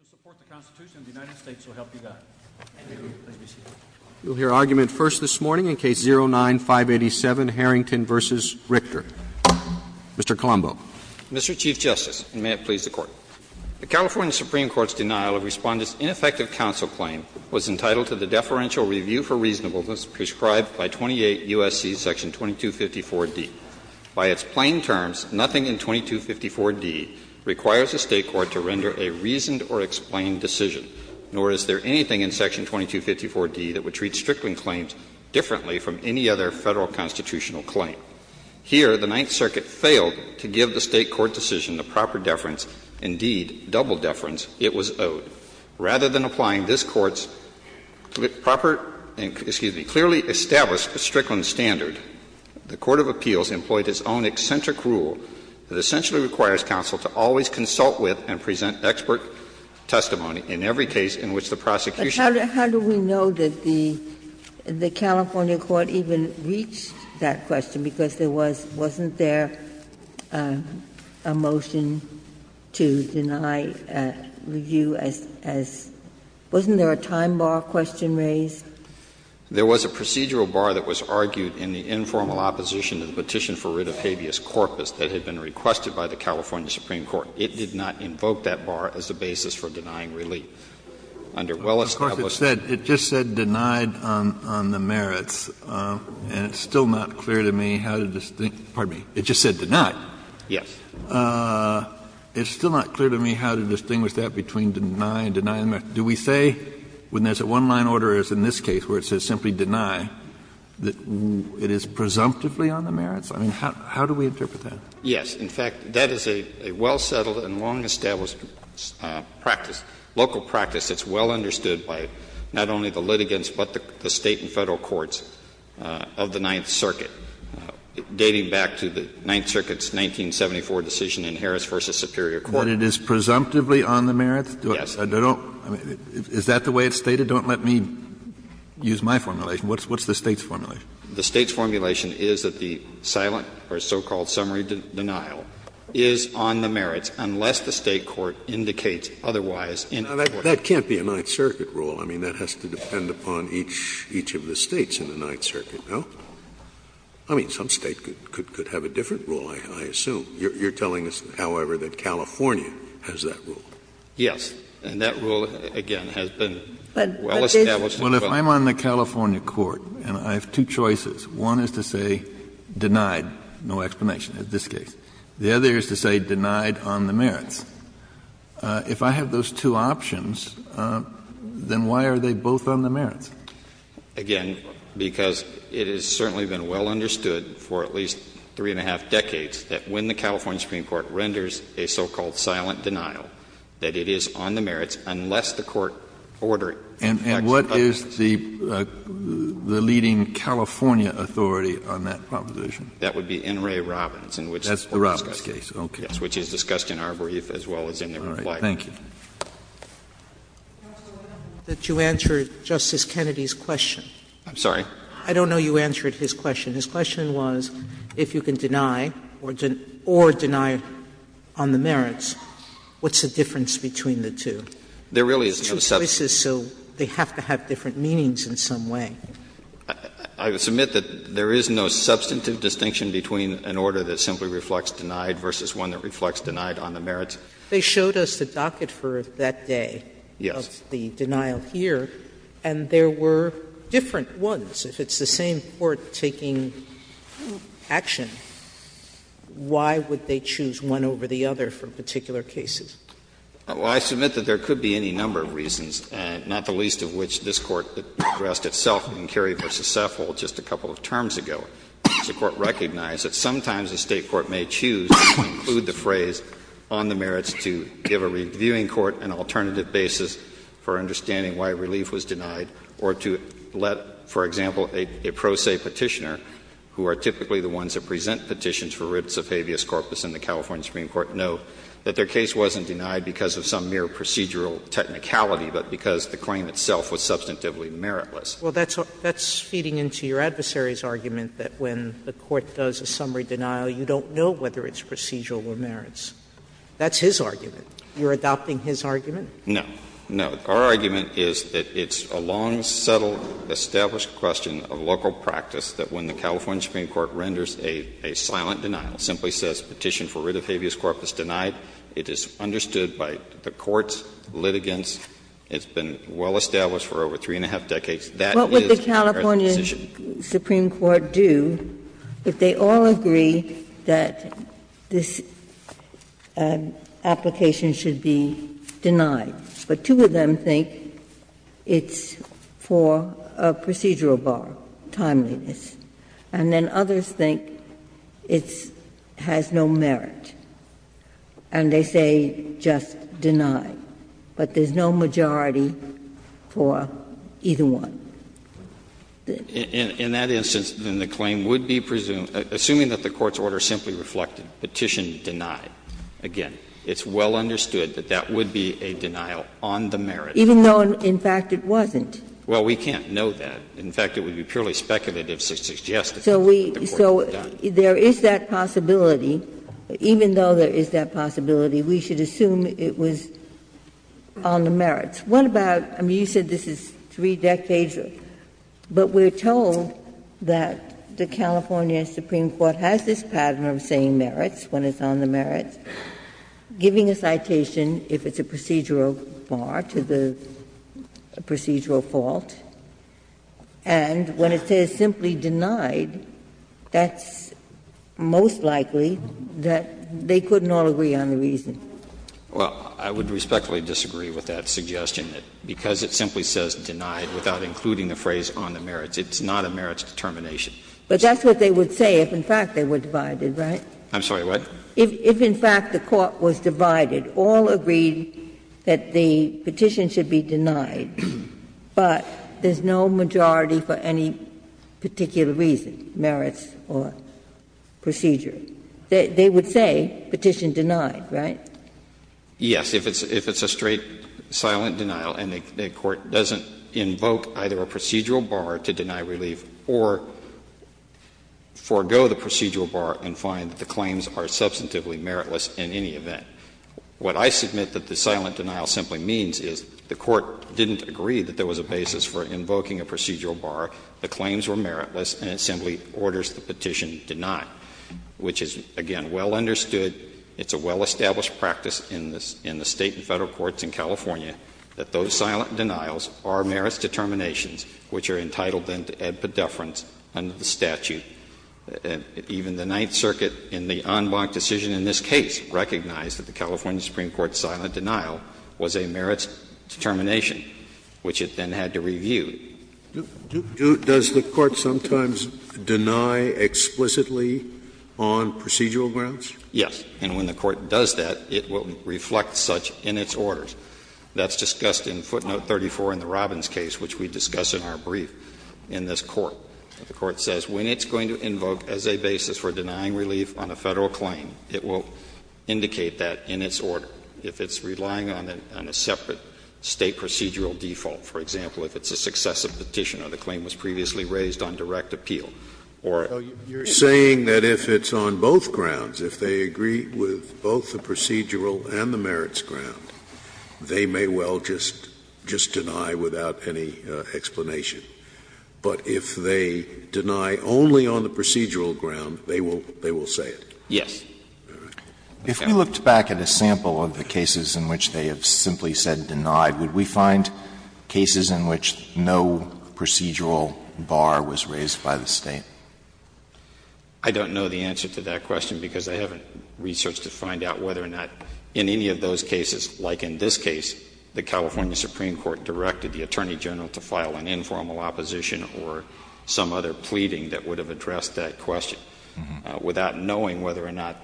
Mr. Chief Justice, and may it please the Court, the California Supreme Court's denial of Respondent's ineffective counsel claim was entitled to the deferential review for reasonableness prescribed by 28 U.S.C. § 2254d. By its plain terms, nothing in 2254d requires a State court to render a reasoned or reasonable or explained decision, nor is there anything in § 2254d that would treat Strickland claims differently from any other Federal constitutional claim. Here, the Ninth Circuit failed to give the State court decision the proper deference, indeed double deference, it was owed. Rather than applying this Court's proper and, excuse me, clearly established Strickland standard, the Court of Appeals employed its own eccentric rule that essentially requires counsel to always consult with and present expert testimony in every case in which the prosecution. Ginsburg. But how do we know that the California court even reached that question? Because there was — wasn't there a motion to deny review as — wasn't there a time bar question raised? There was a procedural bar that was argued in the informal opposition to the petition for writ of habeas corpus that had been requested by the California Supreme Court. It did not invoke that bar as a basis for denying relief. Under well-established Of course, it said — it just said denied on the merits, and it's still not clear to me how to distinct — pardon me. It just said denied. Yes. It's still not clear to me how to distinguish that between deny and deny on the merits. Do we say, when there's a one-line order as in this case where it says simply deny, that it is presumptively on the merits? I mean, how do we interpret that? Yes. In fact, that is a well-settled and long-established practice, local practice that's well understood by not only the litigants but the State and Federal courts of the Ninth Circuit, dating back to the Ninth Circuit's 1974 decision in Harris v. Superior Court. That it is presumptively on the merits? Yes. I don't — is that the way it's stated? Don't let me use my formulation. What's the State's formulation? The State's formulation is that the silent or so-called summary denial is on the merits unless the State court indicates otherwise in a court. Now, that can't be a Ninth Circuit rule. I mean, that has to depend upon each of the States in the Ninth Circuit, no? I mean, some State could have a different rule, I assume. You're telling us, however, that California has that rule? Yes. And that rule, again, has been well established. Well, if I'm on the California court and I have two choices, one is to say denied, no explanation in this case. The other is to say denied on the merits. If I have those two options, then why are they both on the merits? Again, because it has certainly been well understood for at least three and a half decades that when the California Supreme Court renders a so-called silent denial, that it is on the merits unless the court ordered it. And what is the leading California authority on that proposition? That would be N. Ray Robbins, in which case. That's the Robbins case, okay. Yes, which is discussed in our brief as well as in the reply. All right. Thank you. Sotomayor, did you answer Justice Kennedy's question? I'm sorry? I don't know you answered his question. His question was, if you can deny or deny on the merits, what's the difference between the two? There really is no substantive distinction. Two choices, so they have to have different meanings in some way. I would submit that there is no substantive distinction between an order that simply reflects denied versus one that reflects denied on the merits. They showed us the docket for that day of the denial here. Yes. And there were different ones. If it's the same court taking action, why would they choose one over the other for particular cases? Well, I submit that there could be any number of reasons, not the least of which this Court addressed itself in Cary v. Saffold just a couple of terms ago. The Court recognized that sometimes the State court may choose to include the phrase on the merits to give a reviewing court an alternative basis for understanding why relief was denied, or to let, for example, a pro se Petitioner, who are typically the ones that present petitions for writs of habeas corpus in the California Supreme Court, know that their case wasn't denied because of some mere procedural technicality, but because the claim itself was substantively meritless. Well, that's feeding into your adversary's argument that when the Court does a summary denial, you don't know whether it's procedural or merits. That's his argument. You're adopting his argument? No. No. Our argument is that it's a long, subtle, established question of local practice that when the California Supreme Court renders a silent denial, simply says Petition for writ of habeas corpus denied, it is understood by the Court's litigants, it's been well established for over three and a half decades, that is a merit decision. Sotomayor, what does the Supreme Court do if they all agree that this application should be denied, but two of them think it's for a procedural bar, timeliness, and then others think it has no merit, and they say just deny, but there's no majority for either one? In that instance, then the claim would be presumed, assuming that the Court's order simply reflected Petition denied. Again, it's well understood that that would be a denial on the merits. Even though, in fact, it wasn't? Well, we can't know that. In fact, it would be purely speculative to suggest that the Court had done. So there is that possibility, even though there is that possibility, we should assume it was on the merits. What about, I mean, you said this is three decades, but we're told that the California Supreme Court has this pattern of saying merits when it's on the merits, giving a citation, if it's a procedural bar, to the procedural fault, and when it says simply denied, that's most likely that they couldn't all agree on the reason. Well, I would respectfully disagree with that suggestion, because it simply says denied without including the phrase on the merits. It's not a merits determination. But that's what they would say if, in fact, they were divided, right? I'm sorry, what? If, in fact, the Court was divided, all agreed that the petition should be denied, but there's no majority for any particular reason, merits or procedure. They would say Petition denied, right? Yes, if it's a straight silent denial and the Court doesn't invoke either a procedural bar to deny relief or forego the procedural bar and find that the claims are substantively meritless in any event. What I submit that the silent denial simply means is the Court didn't agree that there was a basis for invoking a procedural bar, the claims were meritless, and it simply orders the petition denied, which is, again, well understood. It's a well-established practice in the State and Federal courts in California that those silent denials are merits determinations which are entitled, then, to add pedeference under the statute. Even the Ninth Circuit in the en banc decision in this case recognized that the California Supreme Court's silent denial was a merits determination, which it then had to review. Does the Court sometimes deny explicitly on procedural grounds? Yes. And when the Court does that, it will reflect such in its orders. That's discussed in footnote 34 in the Robbins case, which we discuss in our brief in this Court. The Court says when it's going to invoke as a basis for denying relief on a Federal claim, it will indicate that in its order. If it's relying on a separate State procedural default, for example, if it's a successive petition or the claim was previously raised on direct appeal or a petition. Scalia You're saying that if it's on both grounds, if they agree with both the procedural and the merits ground, they may well just deny without any explanation. But if they deny only on the procedural ground, they will say it? Yes. If we looked back at a sample of the cases in which they have simply said denied, would we find cases in which no procedural bar was raised by the State? I don't know the answer to that question because I haven't researched to find out whether or not in any of those cases, like in this case, the California Supreme Court directed the Attorney General to file an informal opposition or some other pleading that would have addressed that question without knowing whether or not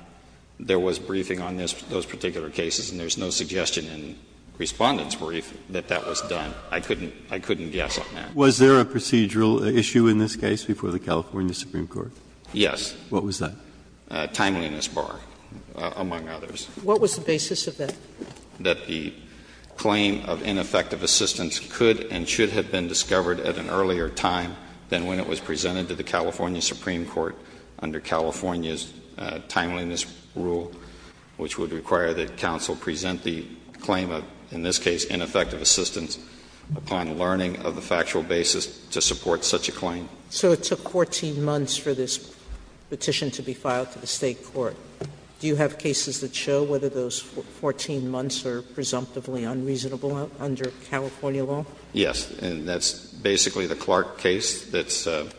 there was briefing on those particular cases, and there's no suggestion in Respondent's brief that that was done. I couldn't guess on that. Was there a procedural issue in this case before the California Supreme Court? Yes. What was that? Timeliness bar, among others. What was the basis of that? That the claim of ineffective assistance could and should have been discovered at an earlier time than when it was presented to the California Supreme Court under California's timeliness rule, which would require that counsel present the claim of, in this case, ineffective assistance upon learning of the factual basis to support such a claim. So it took 14 months for this petition to be filed to the State court. Do you have cases that show whether those 14 months are presumptively unreasonable under California law? Yes. And that's basically the Clark case that's also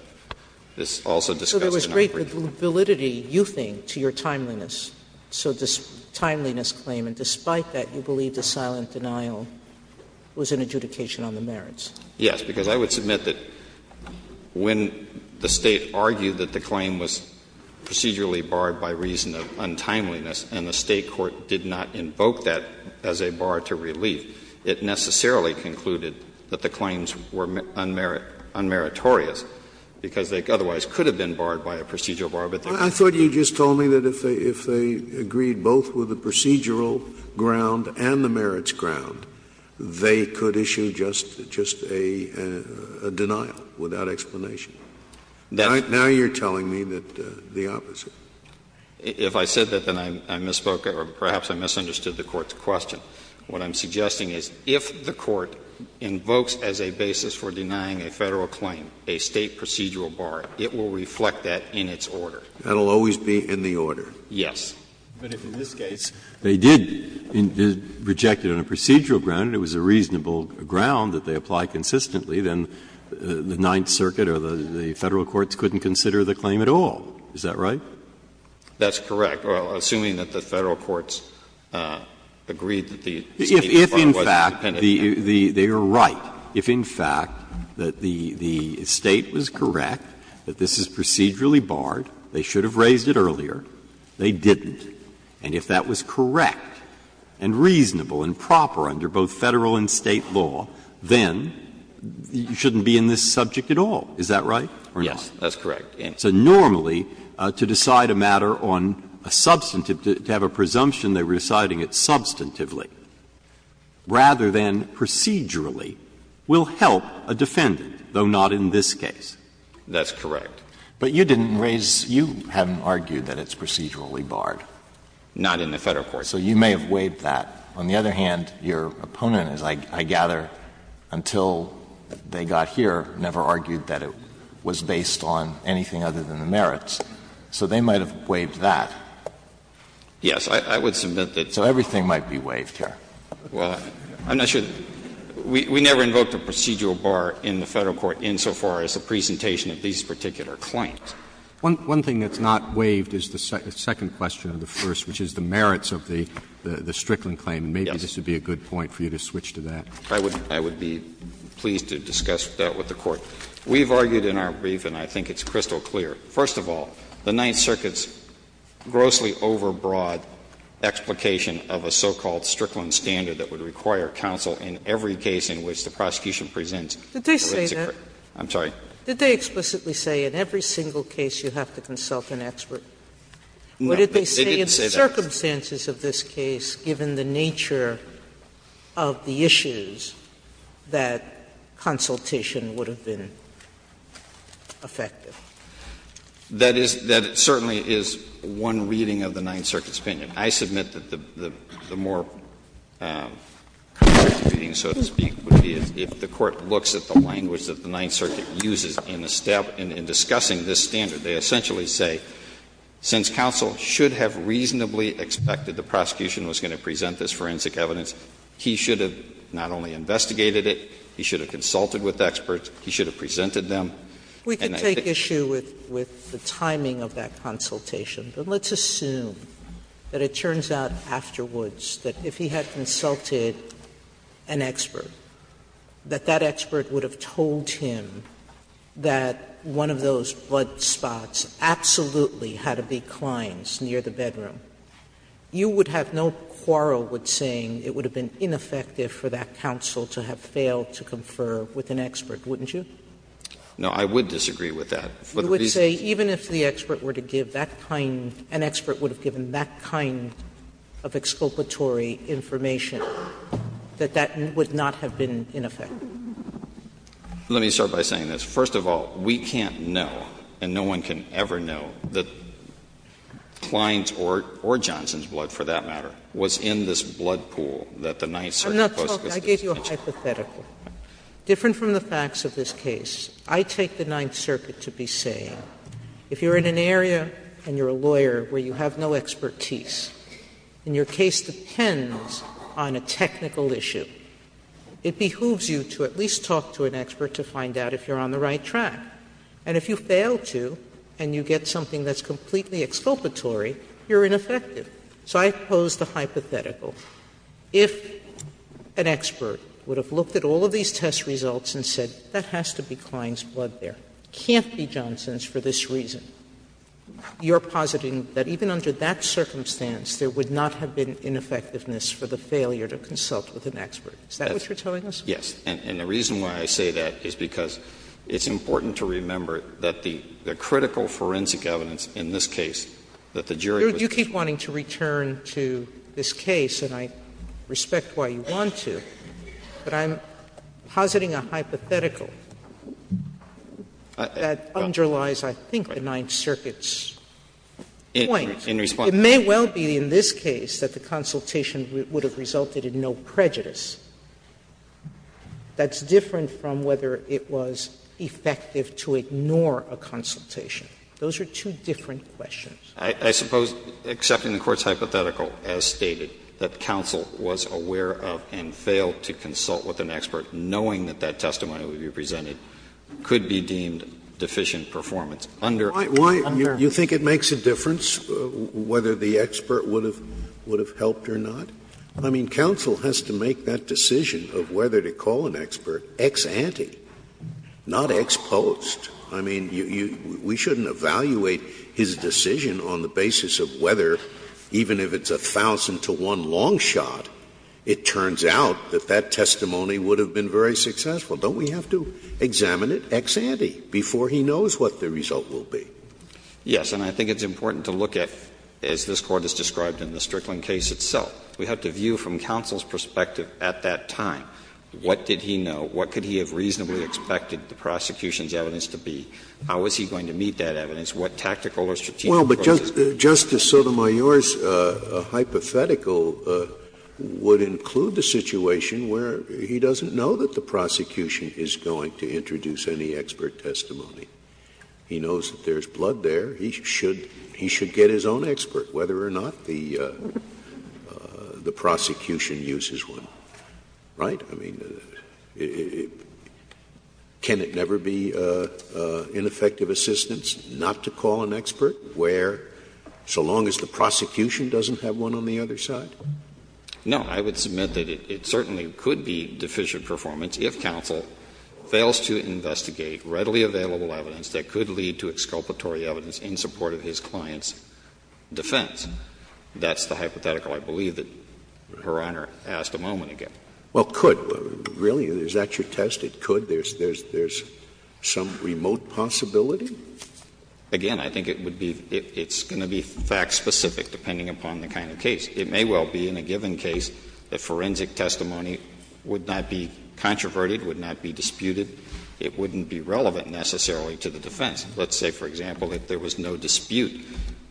discussed in our brief. So there was great validity, you think, to your timeliness, so this timeliness claim, and despite that, you believe the silent denial was an adjudication on the merits. Yes, because I would submit that when the State argued that the claim was procedurally barred by reason of untimeliness and the State court did not invoke that as a bar to relief, it necessarily concluded that the claims were unmeritorious, because they otherwise could have been barred by a procedural bar, but they were not. I thought you just told me that if they agreed both with the procedural ground and the merits ground, they could issue just a denial without explanation. Now you're telling me that the opposite. If I said that, then I misspoke, or perhaps I misunderstood the Court's question. What I'm suggesting is if the Court invokes as a basis for denying a Federal claim a State procedural bar, it will reflect that in its order. That will always be in the order. Yes. Breyer, but if in this case they did reject it on a procedural ground and it was a reasonable ground that they apply consistently, then the Ninth Circuit or the Federal courts couldn't consider the claim at all. Is that right? That's correct. Assuming that the Federal courts agreed that the State bar was independent. If in fact they are right, if in fact the State was correct that this is procedurally barred, they should have raised it earlier, they didn't. And if that was correct and reasonable and proper under both Federal and State law, then you shouldn't be in this subject at all. Is that right or not? Yes, that's correct. So normally, to decide a matter on a substantive, to have a presumption they were deciding it substantively, rather than procedurally, will help a defendant, though not in this case. That's correct. But you didn't raise — you haven't argued that it's procedurally barred. Not in the Federal court. So you may have waived that. On the other hand, your opponent, as I gather, until they got here, never argued that it was based on anything other than the merits. So they might have waived that. Yes. I would submit that. So everything might be waived here. Well, I'm not sure. We never invoked a procedural bar in the Federal court insofar as the presentation of these particular claims. One thing that's not waived is the second question of the first, which is the merits of the Strickland claim. And maybe this would be a good point for you to switch to that. I would be pleased to discuss that with the Court. We've argued in our brief, and I think it's crystal clear. First of all, the Ninth Circuit's grossly overbroad explication of a so-called Strickland standard that would require counsel in every case in which the prosecution presents a risk of crime. I'm sorry. Sotomayor, did they explicitly say in every single case you have to consult an expert? No, they didn't say that. What did they say in the circumstances of this case, given the nature of the issues, that consultation would have been effective? That is — that certainly is one reading of the Ninth Circuit's opinion. I submit that the more concrete reading, so to speak, would be if the Court looks at the language that the Ninth Circuit uses in discussing this standard, they essentially say, since counsel should have reasonably expected the prosecution was going to present this forensic evidence, he should have not only investigated it, he should have consulted with experts, he should have presented them. We could take issue with the timing of that consultation, but let's assume that it had consulted an expert, that that expert would have told him that one of those blood spots absolutely had to be Klein's near the bedroom. You would have no quarrel with saying it would have been ineffective for that counsel to have failed to confer with an expert, wouldn't you? No, I would disagree with that. You would say even if the expert were to give that kind — an expert would have given that kind of exculpatory information, that that would not have been ineffective. Let me start by saying this. First of all, we can't know, and no one can ever know, that Klein's or Johnson's blood, for that matter, was in this blood pool that the Ninth Circuit posted. I'm not talking — I gave you a hypothetical. Different from the facts of this case, I take the Ninth Circuit to be saying, if you are in an area and you are a lawyer where you have no expertise, and your case depends on a technical issue, it behooves you to at least talk to an expert to find out if you are on the right track. And if you fail to and you get something that is completely exculpatory, you are ineffective. So I pose the hypothetical. If an expert would have looked at all of these test results and said, that has to be Klein's reason, you are positing that even under that circumstance, there would not have been ineffectiveness for the failure to consult with an expert. Is that what you are telling us? Yes. And the reason why I say that is because it's important to remember that the critical forensic evidence in this case, that the jury was— You keep wanting to return to this case, and I respect why you want to, but I'm positing a hypothetical that underlies, I think, the Ninth Circuit's point. It may well be in this case that the consultation would have resulted in no prejudice. That's different from whether it was effective to ignore a consultation. Those are two different questions. I suppose accepting the Court's hypothetical as stated, that counsel was aware of and that testimony would be presented, could be deemed deficient performance. Under— Why do you think it makes a difference whether the expert would have helped or not? I mean, counsel has to make that decision of whether to call an expert ex ante, not ex post. I mean, you — we shouldn't evaluate his decision on the basis of whether, even if it's a thousand-to-one long shot, it turns out that that testimony would have been very successful. Don't we have to examine it ex ante before he knows what the result will be? Yes. And I think it's important to look at, as this Court has described in the Strickland case itself, we have to view from counsel's perspective at that time, what did he know, what could he have reasonably expected the prosecution's evidence to be, how was he going to meet that evidence, what tactical or strategic process— Well, but Justice Sotomayor's hypothetical would include the situation where he doesn't know that the prosecution is going to introduce any expert testimony. He knows that there's blood there. He should get his own expert, whether or not the prosecution uses one. Right? I mean, can it never be ineffective assistance not to call an expert where, so long as the prosecution doesn't have one on the other side? No. I would submit that it certainly could be deficient performance if counsel fails to investigate readily available evidence that could lead to exculpatory evidence in support of his client's defense. That's the hypothetical, I believe, that Your Honor asked a moment ago. Well, could. Really, is that your test, it could? There's some remote possibility? Again, I think it would be — it's going to be fact-specific, depending upon the kind of case. It may well be, in a given case, that forensic testimony would not be controverted, would not be disputed. It wouldn't be relevant, necessarily, to the defense. Let's say, for example, that there was no dispute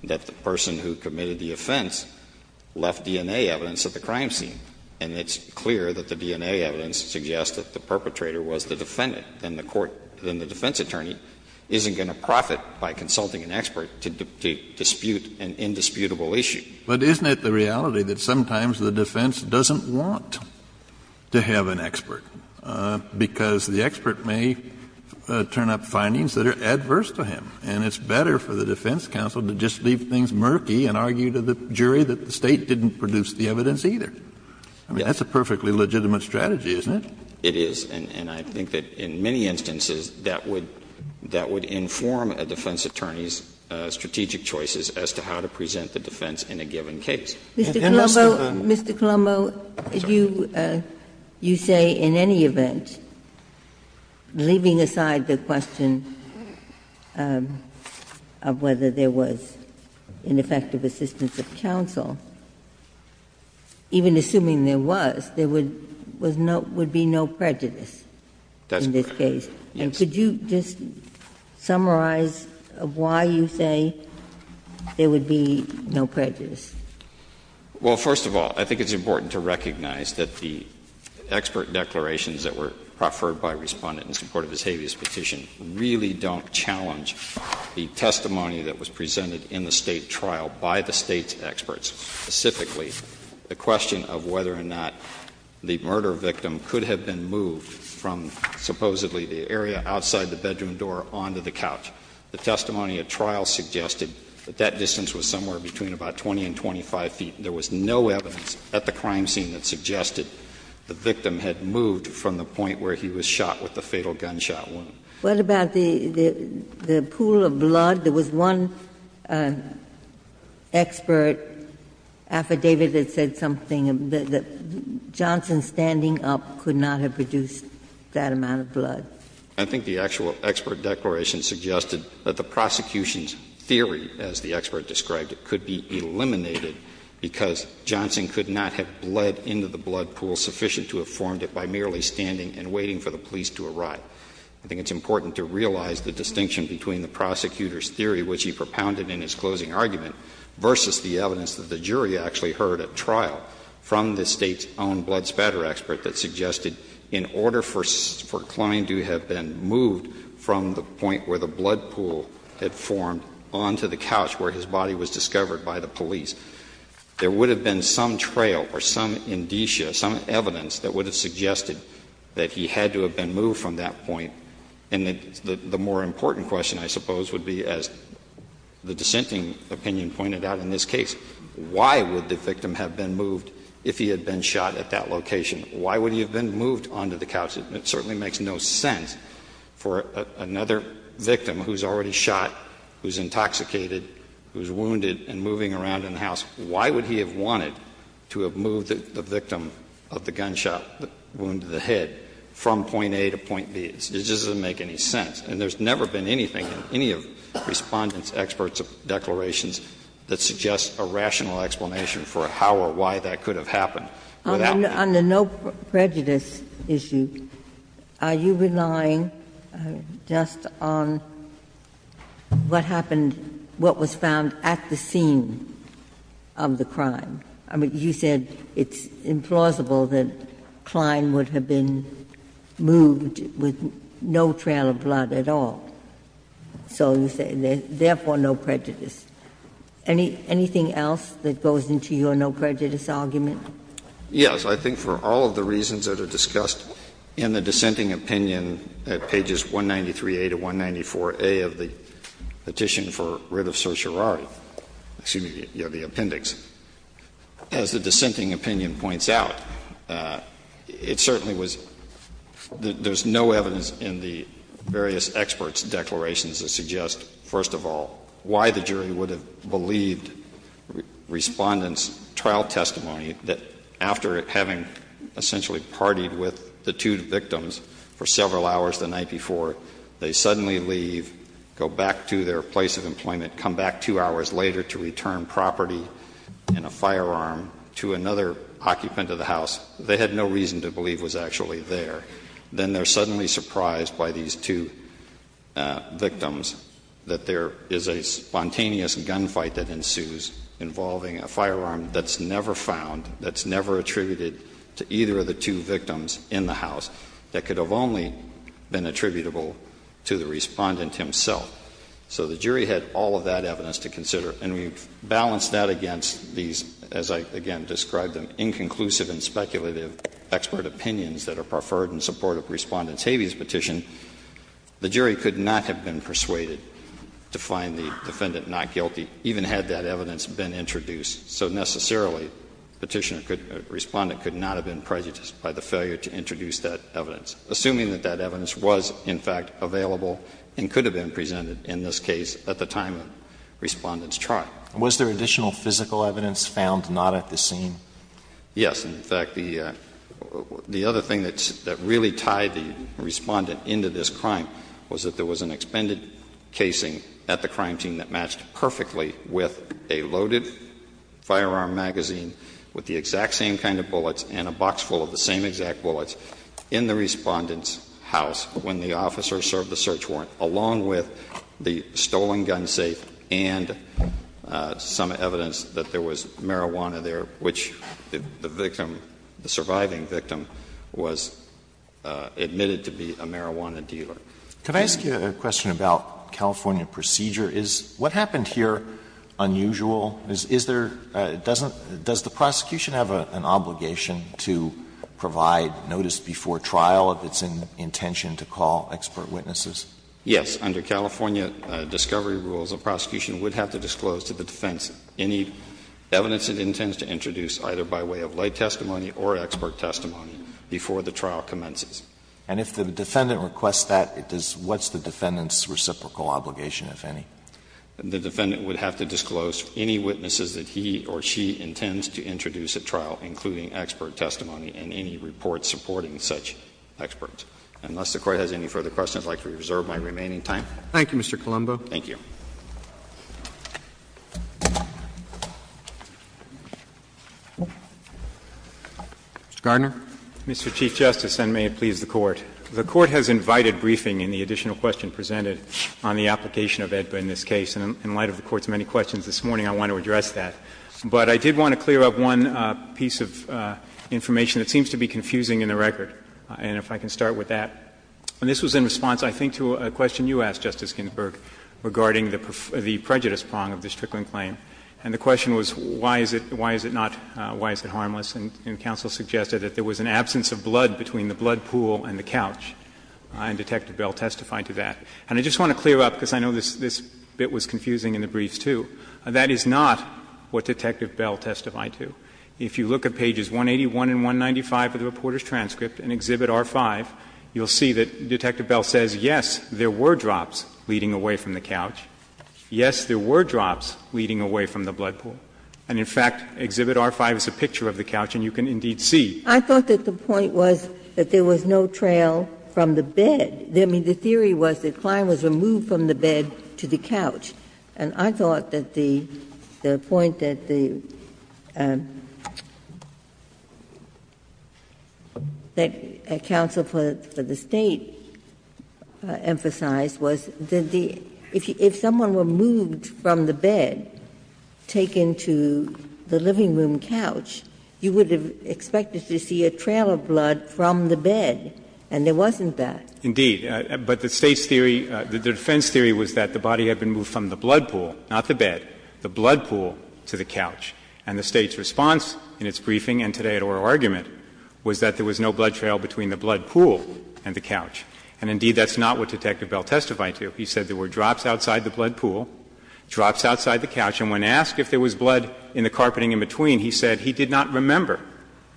that the person who committed the offense left DNA evidence at the crime scene, and it's clear that the DNA evidence suggests that the perpetrator was the defendant. Then the court — then the defense attorney isn't going to profit by consulting an expert to dispute an indisputable issue. But isn't it the reality that sometimes the defense doesn't want to have an expert, because the expert may turn up findings that are adverse to him, and it's better for the defense counsel to just leave things murky and argue to the jury that the State didn't produce the evidence either? I mean, that's a perfectly legitimate strategy, isn't it? It is. And I think that in many instances, that would — that would inform a defense attorney's strategic choices as to how to present the defense in a given case. And that's the — Ginsburg. Mr. Colombo, you say in any event, leaving aside the question of whether there was ineffective assistance of counsel, even assuming there was, there would be no prejudice in this case. That's correct, yes. And could you just summarize why you say there would be no prejudice? Well, first of all, I think it's important to recognize that the expert declarations that were preferred by Respondent in support of this habeas petition really don't challenge the testimony that was presented in the State trial by the State's experts, specifically the question of whether or not the murder victim could have been moved from supposedly the area outside the bedroom door onto the couch. The testimony at trial suggested that that distance was somewhere between about 20 and 25 feet. There was no evidence at the crime scene that suggested the victim had moved from the point where he was shot with a fatal gunshot wound. What about the pool of blood? There was one expert affidavit that said something that Johnson standing up could not have produced that amount of blood. I think the actual expert declaration suggested that the prosecution's theory, as the expert described it, could be eliminated because Johnson could not have bled into the blood pool sufficient to have formed it by merely standing and waiting for the police to arrive. I think it's important to realize the distinction between the prosecutor's theory, which he propounded in his closing argument, versus the evidence that the jury actually heard at trial from the State's own blood spatter expert that suggested in order for Klein to have been moved from the point where the blood pool had formed onto the couch where his body was discovered by the police, there would have been some trail or some indicia, some evidence that would have suggested that he had to have been moved from that point. And the more important question, I suppose, would be, as the dissenting opinion pointed out in this case, why would the victim have been moved if he had been shot at that location? Why would he have been moved onto the couch? It certainly makes no sense for another victim who's already shot, who's intoxicated, who's wounded and moving around in the house, why would he have wanted to have moved the victim of the gunshot wound to the head from point A to point B? It just doesn't make any sense. And there's never been anything in any of Respondent's expert declarations that suggests a rational explanation for how or why that could have happened. Ginsburg. On the no prejudice issue, are you relying just on what happened, what was found at the scene of the crime? I mean, you said it's implausible that Klein would have been moved with no trail of blood at all, so you say therefore no prejudice. Anything else that goes into your no prejudice argument? Yes. I think for all of the reasons that are discussed in the dissenting opinion at pages 193a to 194a of the petition for writ of certiorari, excuse me, the appendix, as the dissenting opinion points out, it certainly was the – there's no evidence in the various experts' declarations that suggest, first of all, why the jury would have believed Respondent's trial testimony that after having essentially partied with the two victims for several hours the night before, they suddenly leave, go back to their place of employment, come back two hours later to return property and a firearm to another occupant of the house they had no reason to believe was actually there. Then they're suddenly surprised by these two victims that there is a spontaneous gunfight that ensues involving a firearm that's never found, that's never attributed to either of the two victims in the house, that could have only been attributable to the Respondent himself. So the jury had all of that evidence to consider, and we balanced that against these, as I again described them, inconclusive and speculative expert opinions that are preferred in support of Respondent's habeas petition. The jury could not have been persuaded to find the defendant not guilty, even had that evidence been introduced. So necessarily, Respondent could not have been prejudiced by the failure to introduce that evidence, assuming that that evidence was, in fact, available and could have been presented in this case at the time of Respondent's trial. Was there additional physical evidence found not at the scene? Yes. In fact, the other thing that really tied the Respondent into this crime was that there was an expended casing at the crime scene that matched perfectly with a loaded firearm magazine with the exact same kind of bullets and a box full of the same exact bullets in the Respondent's house when the officer served the search warrant, along with the stolen gun safe and some evidence that there was marijuana there, which the victim, the surviving victim, was admitted to be a marijuana dealer. Can I ask you a question about California procedure? Is what happened here unusual? Is there — does the prosecution have an obligation to provide notice before trial of its intention to call expert witnesses? Yes. Under California discovery rules, a prosecution would have to disclose to the defense any evidence it intends to introduce, either by way of lay testimony or expert testimony, before the trial commences. And if the defendant requests that, it does — what's the defendant's reciprocal obligation, if any? The defendant would have to disclose any witnesses that he or she intends to introduce at trial, including expert testimony and any reports supporting such experts. Unless the Court has any further questions, I would like to reserve my remaining time. Thank you, Mr. Colombo. Thank you. Mr. Gardner. Mr. Chief Justice, and may it please the Court. The Court has invited briefing in the additional question presented on the application of AEDPA in this case. And in light of the Court's many questions this morning, I want to address that. But I did want to clear up one piece of information that seems to be confusing in the record, and if I can start with that. And this was in response, I think, to a question you asked, Justice Ginsburg, regarding the prejudice prong of this trickling claim. And the question was, why is it not — why is it harmless? And counsel suggested that there was an absence of blood between the blood pool and the couch, and Detective Bell testified to that. And I just want to clear up, because I know this bit was confusing in the briefs, too, that is not what Detective Bell testified to. If you look at pages 181 and 195 of the reporter's transcript in Exhibit R-5, you'll see that Detective Bell says, yes, there were drops leading away from the couch. Yes, there were drops leading away from the blood pool. And, in fact, Exhibit R-5 is a picture of the couch, and you can indeed see. I thought that the point was that there was no trail from the bed. I mean, the theory was that Klein was removed from the bed to the couch. And I thought that the point that the — that counsel for the State emphasized was that if someone were moved from the bed, taken to the living room couch, you would have expected to see a trail of blood from the bed, and there wasn't that. Indeed. But the State's theory, the defense theory was that the body had been moved from the blood pool, not the bed, the blood pool to the couch. And the State's response in its briefing and today at oral argument was that there was no blood trail between the blood pool and the couch. And, indeed, that's not what Detective Bell testified to. He said there were drops outside the blood pool, drops outside the couch, and when asked if there was blood in the carpeting in between, he said he did not remember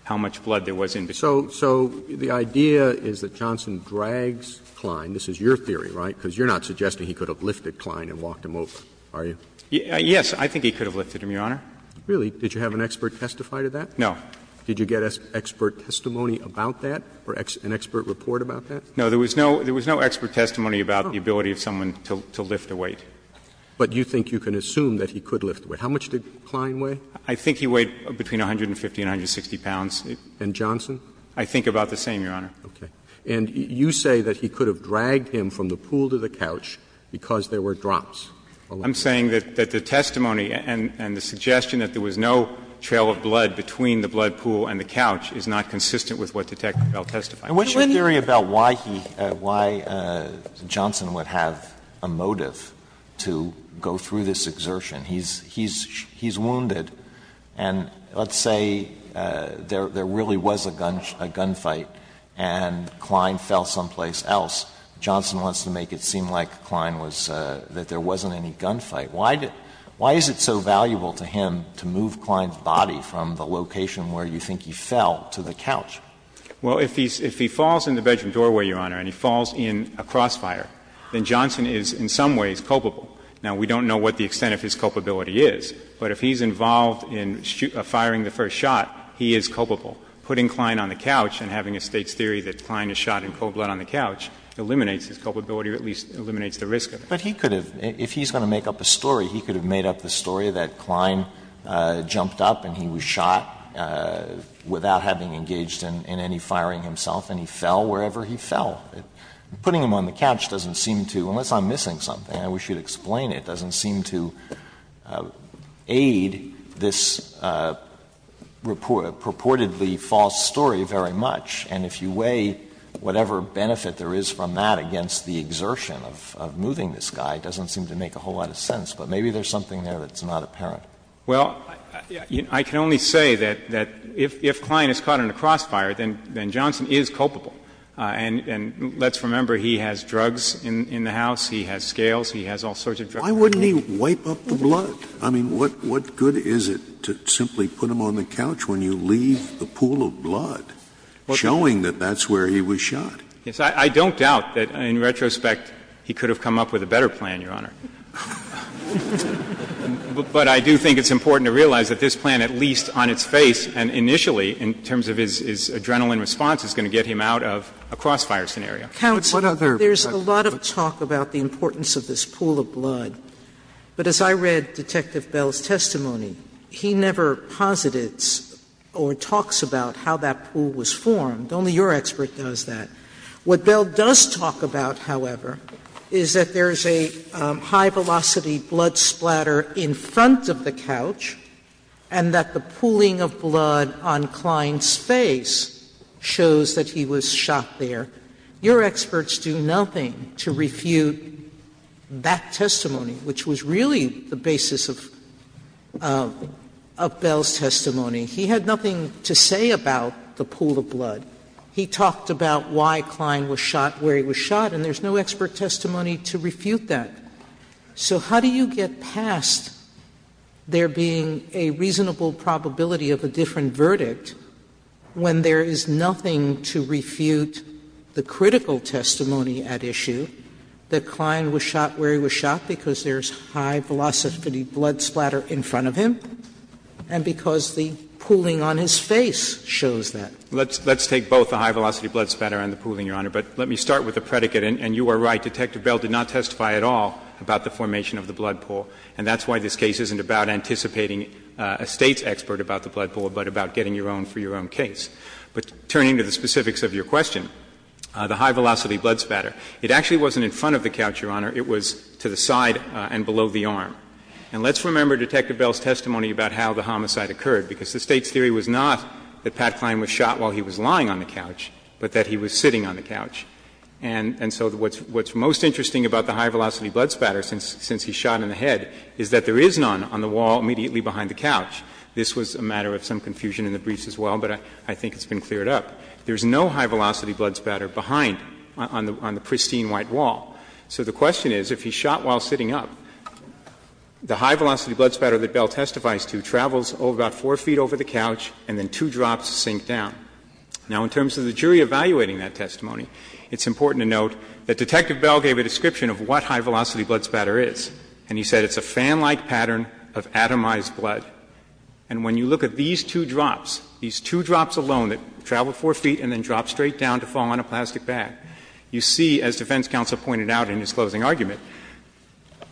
how much blood there was in between. So the idea is that Johnson drags Klein, this is your theory, right, because you're not suggesting he could have lifted Klein and walked him over, are you? Yes, I think he could have lifted him, Your Honor. Really? Did you have an expert testify to that? No. Did you get expert testimony about that or an expert report about that? No, there was no expert testimony about the ability of someone to lift a weight. But you think you can assume that he could lift a weight. How much did Klein weigh? I think he weighed between 150 and 160 pounds. And Johnson? I think about the same, Your Honor. Okay. And you say that he could have dragged him from the pool to the couch because there were drops. I'm saying that the testimony and the suggestion that there was no trail of blood between the blood pool and the couch is not consistent with what Detective Bell testified. And what's your theory about why he, why Johnson would have a motive to go through this exertion? He's wounded, and let's say there really was a gunfight and Klein fell someplace else, Johnson wants to make it seem like Klein was, that there wasn't any gunfight. Why is it so valuable to him to move Klein's body from the location where you think he fell to the couch? Well, if he falls in the bedroom doorway, Your Honor, and he falls in a crossfire, then Johnson is in some ways culpable. Now, we don't know what the extent of his culpability is, but if he's involved in firing the first shot, he is culpable. Putting Klein on the couch and having a State's theory that Klein is shot in cold blood on the couch eliminates his culpability or at least eliminates the risk of it. But he could have, if he's going to make up a story, he could have made up the story that Klein jumped up and he was shot without having engaged in any firing himself, and he fell wherever he fell. Putting him on the couch doesn't seem to, unless I'm missing something, I wish you'd explain it, doesn't seem to aid this purportedly false story very much. And if you weigh whatever benefit there is from that against the exertion of moving this guy, it doesn't seem to make a whole lot of sense. But maybe there's something there that's not apparent. Well, I can only say that if Klein is caught in a crossfire, then Johnson is culpable. And let's remember he has drugs in the house, he has scales, he has all sorts of drugs in the house. Why wouldn't he wipe up the blood? I mean, what good is it to simply put him on the couch when you leave the pool of blood, showing that that's where he was shot? Yes, I don't doubt that, in retrospect, he could have come up with a better plan, Your Honor. But I do think it's important to realize that this plan, at least on its face and initially in terms of his adrenaline response, is going to get him out of a crossfire scenario. Sotomayor, there's a lot of talk about the importance of this pool of blood, but as I read Detective Bell's testimony, he never posited or talks about how that pool was formed. Only your expert does that. What Bell does talk about, however, is that there's a high-velocity blood splatter in front of the couch and that the pooling of blood on Klein's face shows that he was shot there. Your experts do nothing to refute that testimony, which was really the basis of Bell's testimony. He had nothing to say about the pool of blood. He talked about why Klein was shot where he was shot, and there's no expert testimony to refute that. So how do you get past there being a reasonable probability of a different verdict when there is nothing to refute the critical testimony at issue that Klein was shot where he was shot because there's high-velocity blood splatter in front of him and because the pooling on his face shows that? Let's take both the high-velocity blood splatter and the pooling, Your Honor, but let me start with the predicate. And you are right, Detective Bell did not testify at all about the formation of the blood pool, and that's why this case isn't about anticipating a State's ruling for your own case. But turning to the specifics of your question, the high-velocity blood splatter, it actually wasn't in front of the couch, Your Honor. It was to the side and below the arm. And let's remember Detective Bell's testimony about how the homicide occurred, because the State's theory was not that Pat Klein was shot while he was lying on the couch, but that he was sitting on the couch. And so what's most interesting about the high-velocity blood splatter, since he's This was a matter of some confusion in the briefs as well, but I think it's been cleared up. There's no high-velocity blood splatter behind, on the pristine white wall. So the question is, if he's shot while sitting up, the high-velocity blood splatter that Bell testifies to travels about 4 feet over the couch and then two drops sink down. Now, in terms of the jury evaluating that testimony, it's important to note that Detective Bell gave a description of what high-velocity blood splatter is, and he said that it's a fan-like pattern of atomized blood. And when you look at these two drops, these two drops alone that travel 4 feet and then drop straight down to fall on a plastic bag, you see, as defense counsel pointed out in his closing argument,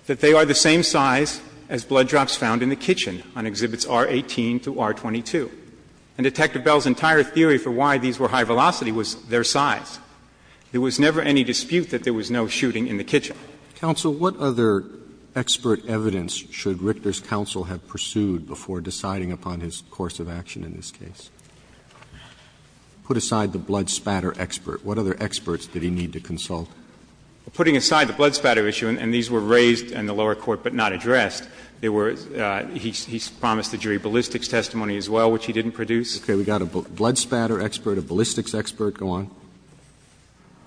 that they are the same size as blood drops found in the kitchen on exhibits R-18 to R-22. And Detective Bell's entire theory for why these were high-velocity was their size. Roberts, counsel, what other expert evidence should Richter's counsel have pursued before deciding upon his course of action in this case? Put aside the blood splatter expert. What other experts did he need to consult? Put aside the blood splatter issue, and these were raised in the lower court but not addressed. There were he promised the jury ballistics testimony as well, which he didn't produce. Okay. We've got a blood splatter expert, a ballistics expert. Go on.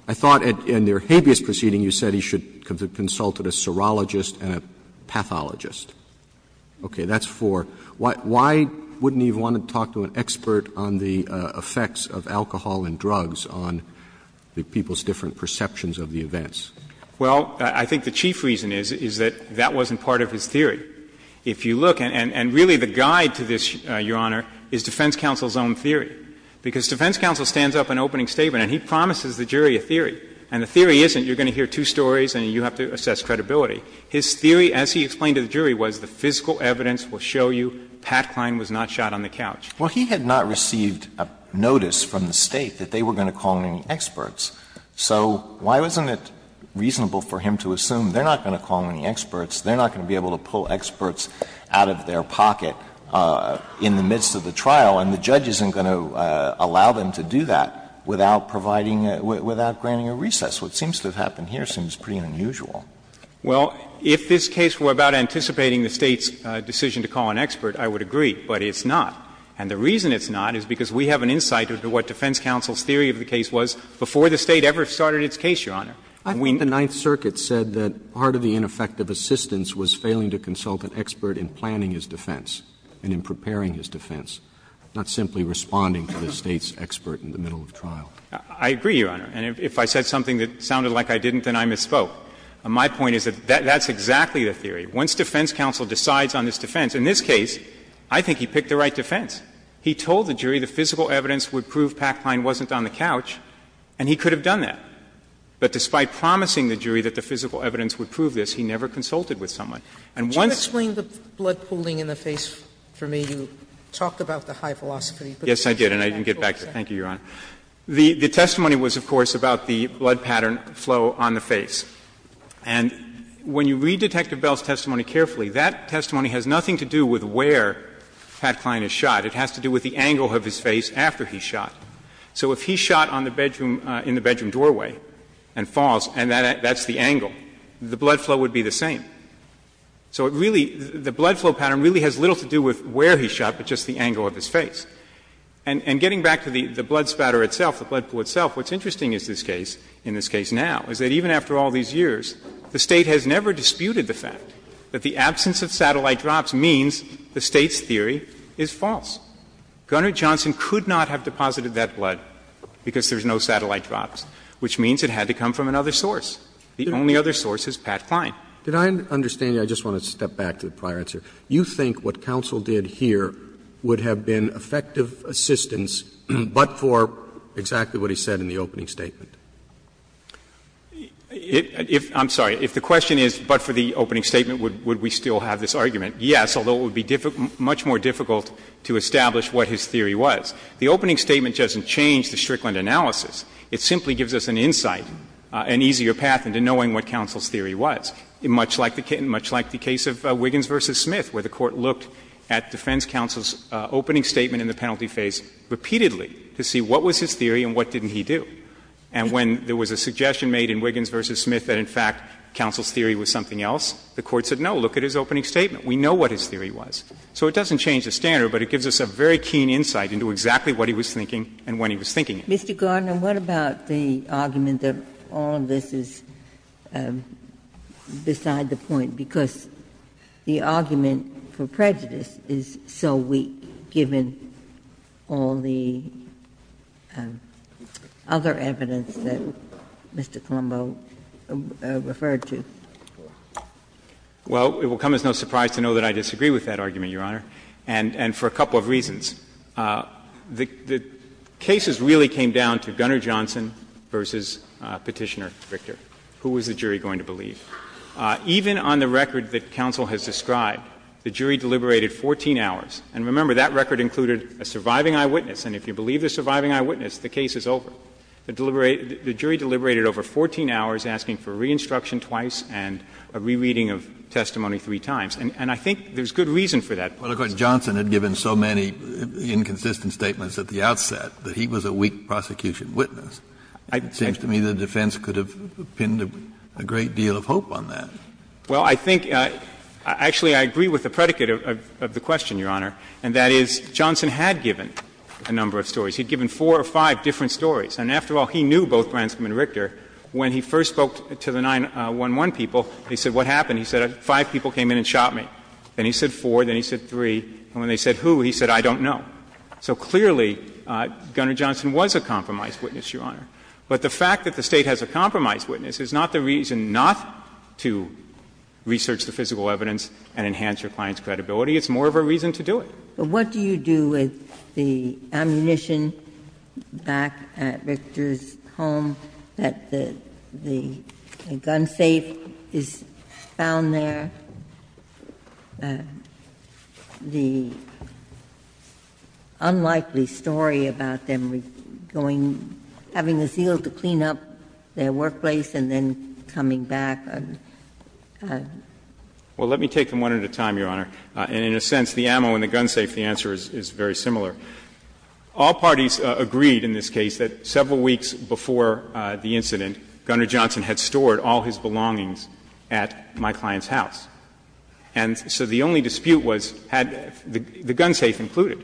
I thought in their habeas proceeding you said he should have consulted a serologist and a pathologist. Okay. That's four. Why wouldn't he have wanted to talk to an expert on the effects of alcohol and drugs on the people's different perceptions of the events? Well, I think the chief reason is, is that that wasn't part of his theory. If you look, and really the guide to this, Your Honor, is defense counsel's own theory. Because defense counsel stands up in opening statement and he promises the jury a theory. And the theory isn't you're going to hear two stories and you have to assess credibility. His theory, as he explained to the jury, was the physical evidence will show you Pat Kline was not shot on the couch. Well, he had not received a notice from the State that they were going to call in experts. So why wasn't it reasonable for him to assume they're not going to call in the experts, they're not going to be able to pull experts out of their pocket in the midst of the case, to allow them to do that without providing, without granting a recess? What seems to have happened here seems pretty unusual. Well, if this case were about anticipating the State's decision to call an expert, I would agree, but it's not. And the reason it's not is because we have an insight into what defense counsel's theory of the case was before the State ever started its case, Your Honor. I think the Ninth Circuit said that part of the ineffective assistance was failing to consult an expert in planning his defense and in preparing his defense, not simply responding to the State's expert in the middle of trial. I agree, Your Honor. And if I said something that sounded like I didn't, then I misspoke. My point is that that's exactly the theory. Once defense counsel decides on this defense, in this case, I think he picked the right defense. He told the jury the physical evidence would prove Pat Kline wasn't on the couch, and he could have done that. But despite promising the jury that the physical evidence would prove this, he never Yes, I did, and I didn't get back to it. Thank you, Your Honor. The testimony was, of course, about the blood pattern flow on the face. And when you read Detective Bell's testimony carefully, that testimony has nothing to do with where Pat Kline is shot. It has to do with the angle of his face after he's shot. So if he's shot on the bedroom — in the bedroom doorway and falls, and that's the angle, the blood flow would be the same. So it really — the blood flow pattern really has little to do with where he's shot, but just the angle of his face. And getting back to the blood spatter itself, the blood pool itself, what's interesting is this case, in this case now, is that even after all these years, the State has never disputed the fact that the absence of satellite drops means the State's theory is false. Gunner Johnson could not have deposited that blood because there's no satellite drops, which means it had to come from another source. The only other source is Pat Kline. Did I understand you? I just want to step back to the prior answer. You think what counsel did here would have been effective assistance but for exactly what he said in the opening statement? If — I'm sorry. If the question is but for the opening statement, would we still have this argument? Yes, although it would be much more difficult to establish what his theory was. The opening statement doesn't change the Strickland analysis. It simply gives us an insight, an easier path into knowing what counsel's theory was, much like the case of Wiggins v. Smith, where the Court looked at defense counsel's opening statement in the penalty phase repeatedly to see what was his theory and what didn't he do. And when there was a suggestion made in Wiggins v. Smith that, in fact, counsel's theory was something else, the Court said, no, look at his opening statement. We know what his theory was. So it doesn't change the standard, but it gives us a very keen insight into exactly what he was thinking and when he was thinking it. Ginsburg. Mr. Gardner, what about the argument that all of this is beside the point, because the argument for prejudice is so weak, given all the other evidence that Mr. Colombo referred to? Well, it will come as no surprise to know that I disagree with that argument, Your Honor, and for a couple of reasons. The cases really came down to Gunner Johnson v. Petitioner Richter. Who was the jury going to believe? Even on the record that counsel has described, the jury deliberated 14 hours. And remember, that record included a surviving eyewitness, and if you believe the surviving eyewitness, the case is over. The jury deliberated over 14 hours, asking for re-instruction twice and a rereading of testimony three times. And I think there's good reason for that. Well, of course, Johnson had given so many inconsistent statements at the outset that he was a weak prosecution witness. It seems to me the defense could have pinned a great deal of hope on that. Well, I think actually I agree with the predicate of the question, Your Honor, and that is Johnson had given a number of stories. He had given four or five different stories. And after all, he knew both Branscombe and Richter. When he first spoke to the 9-1-1 people, he said, what happened? He said, five people came in and shot me. Then he said four, then he said three, and when they said who, he said, I don't know. So clearly, Gunner Johnson was a compromised witness, Your Honor. But the fact that the State has a compromised witness is not the reason not to research the physical evidence and enhance your client's credibility. It's more of a reason to do it. But what do you do with the ammunition back at Richter's home that the gun safe is found there, the unlikely story about them going, having a zeal to clean up their workplace and then coming back? Well, let me take them one at a time, Your Honor. And in a sense, the ammo and the gun safe, the answer is very similar. All parties agreed in this case that several weeks before the incident, Gunner Johnson had stored all his belongings at my client's house. And so the only dispute was, had the gun safe included?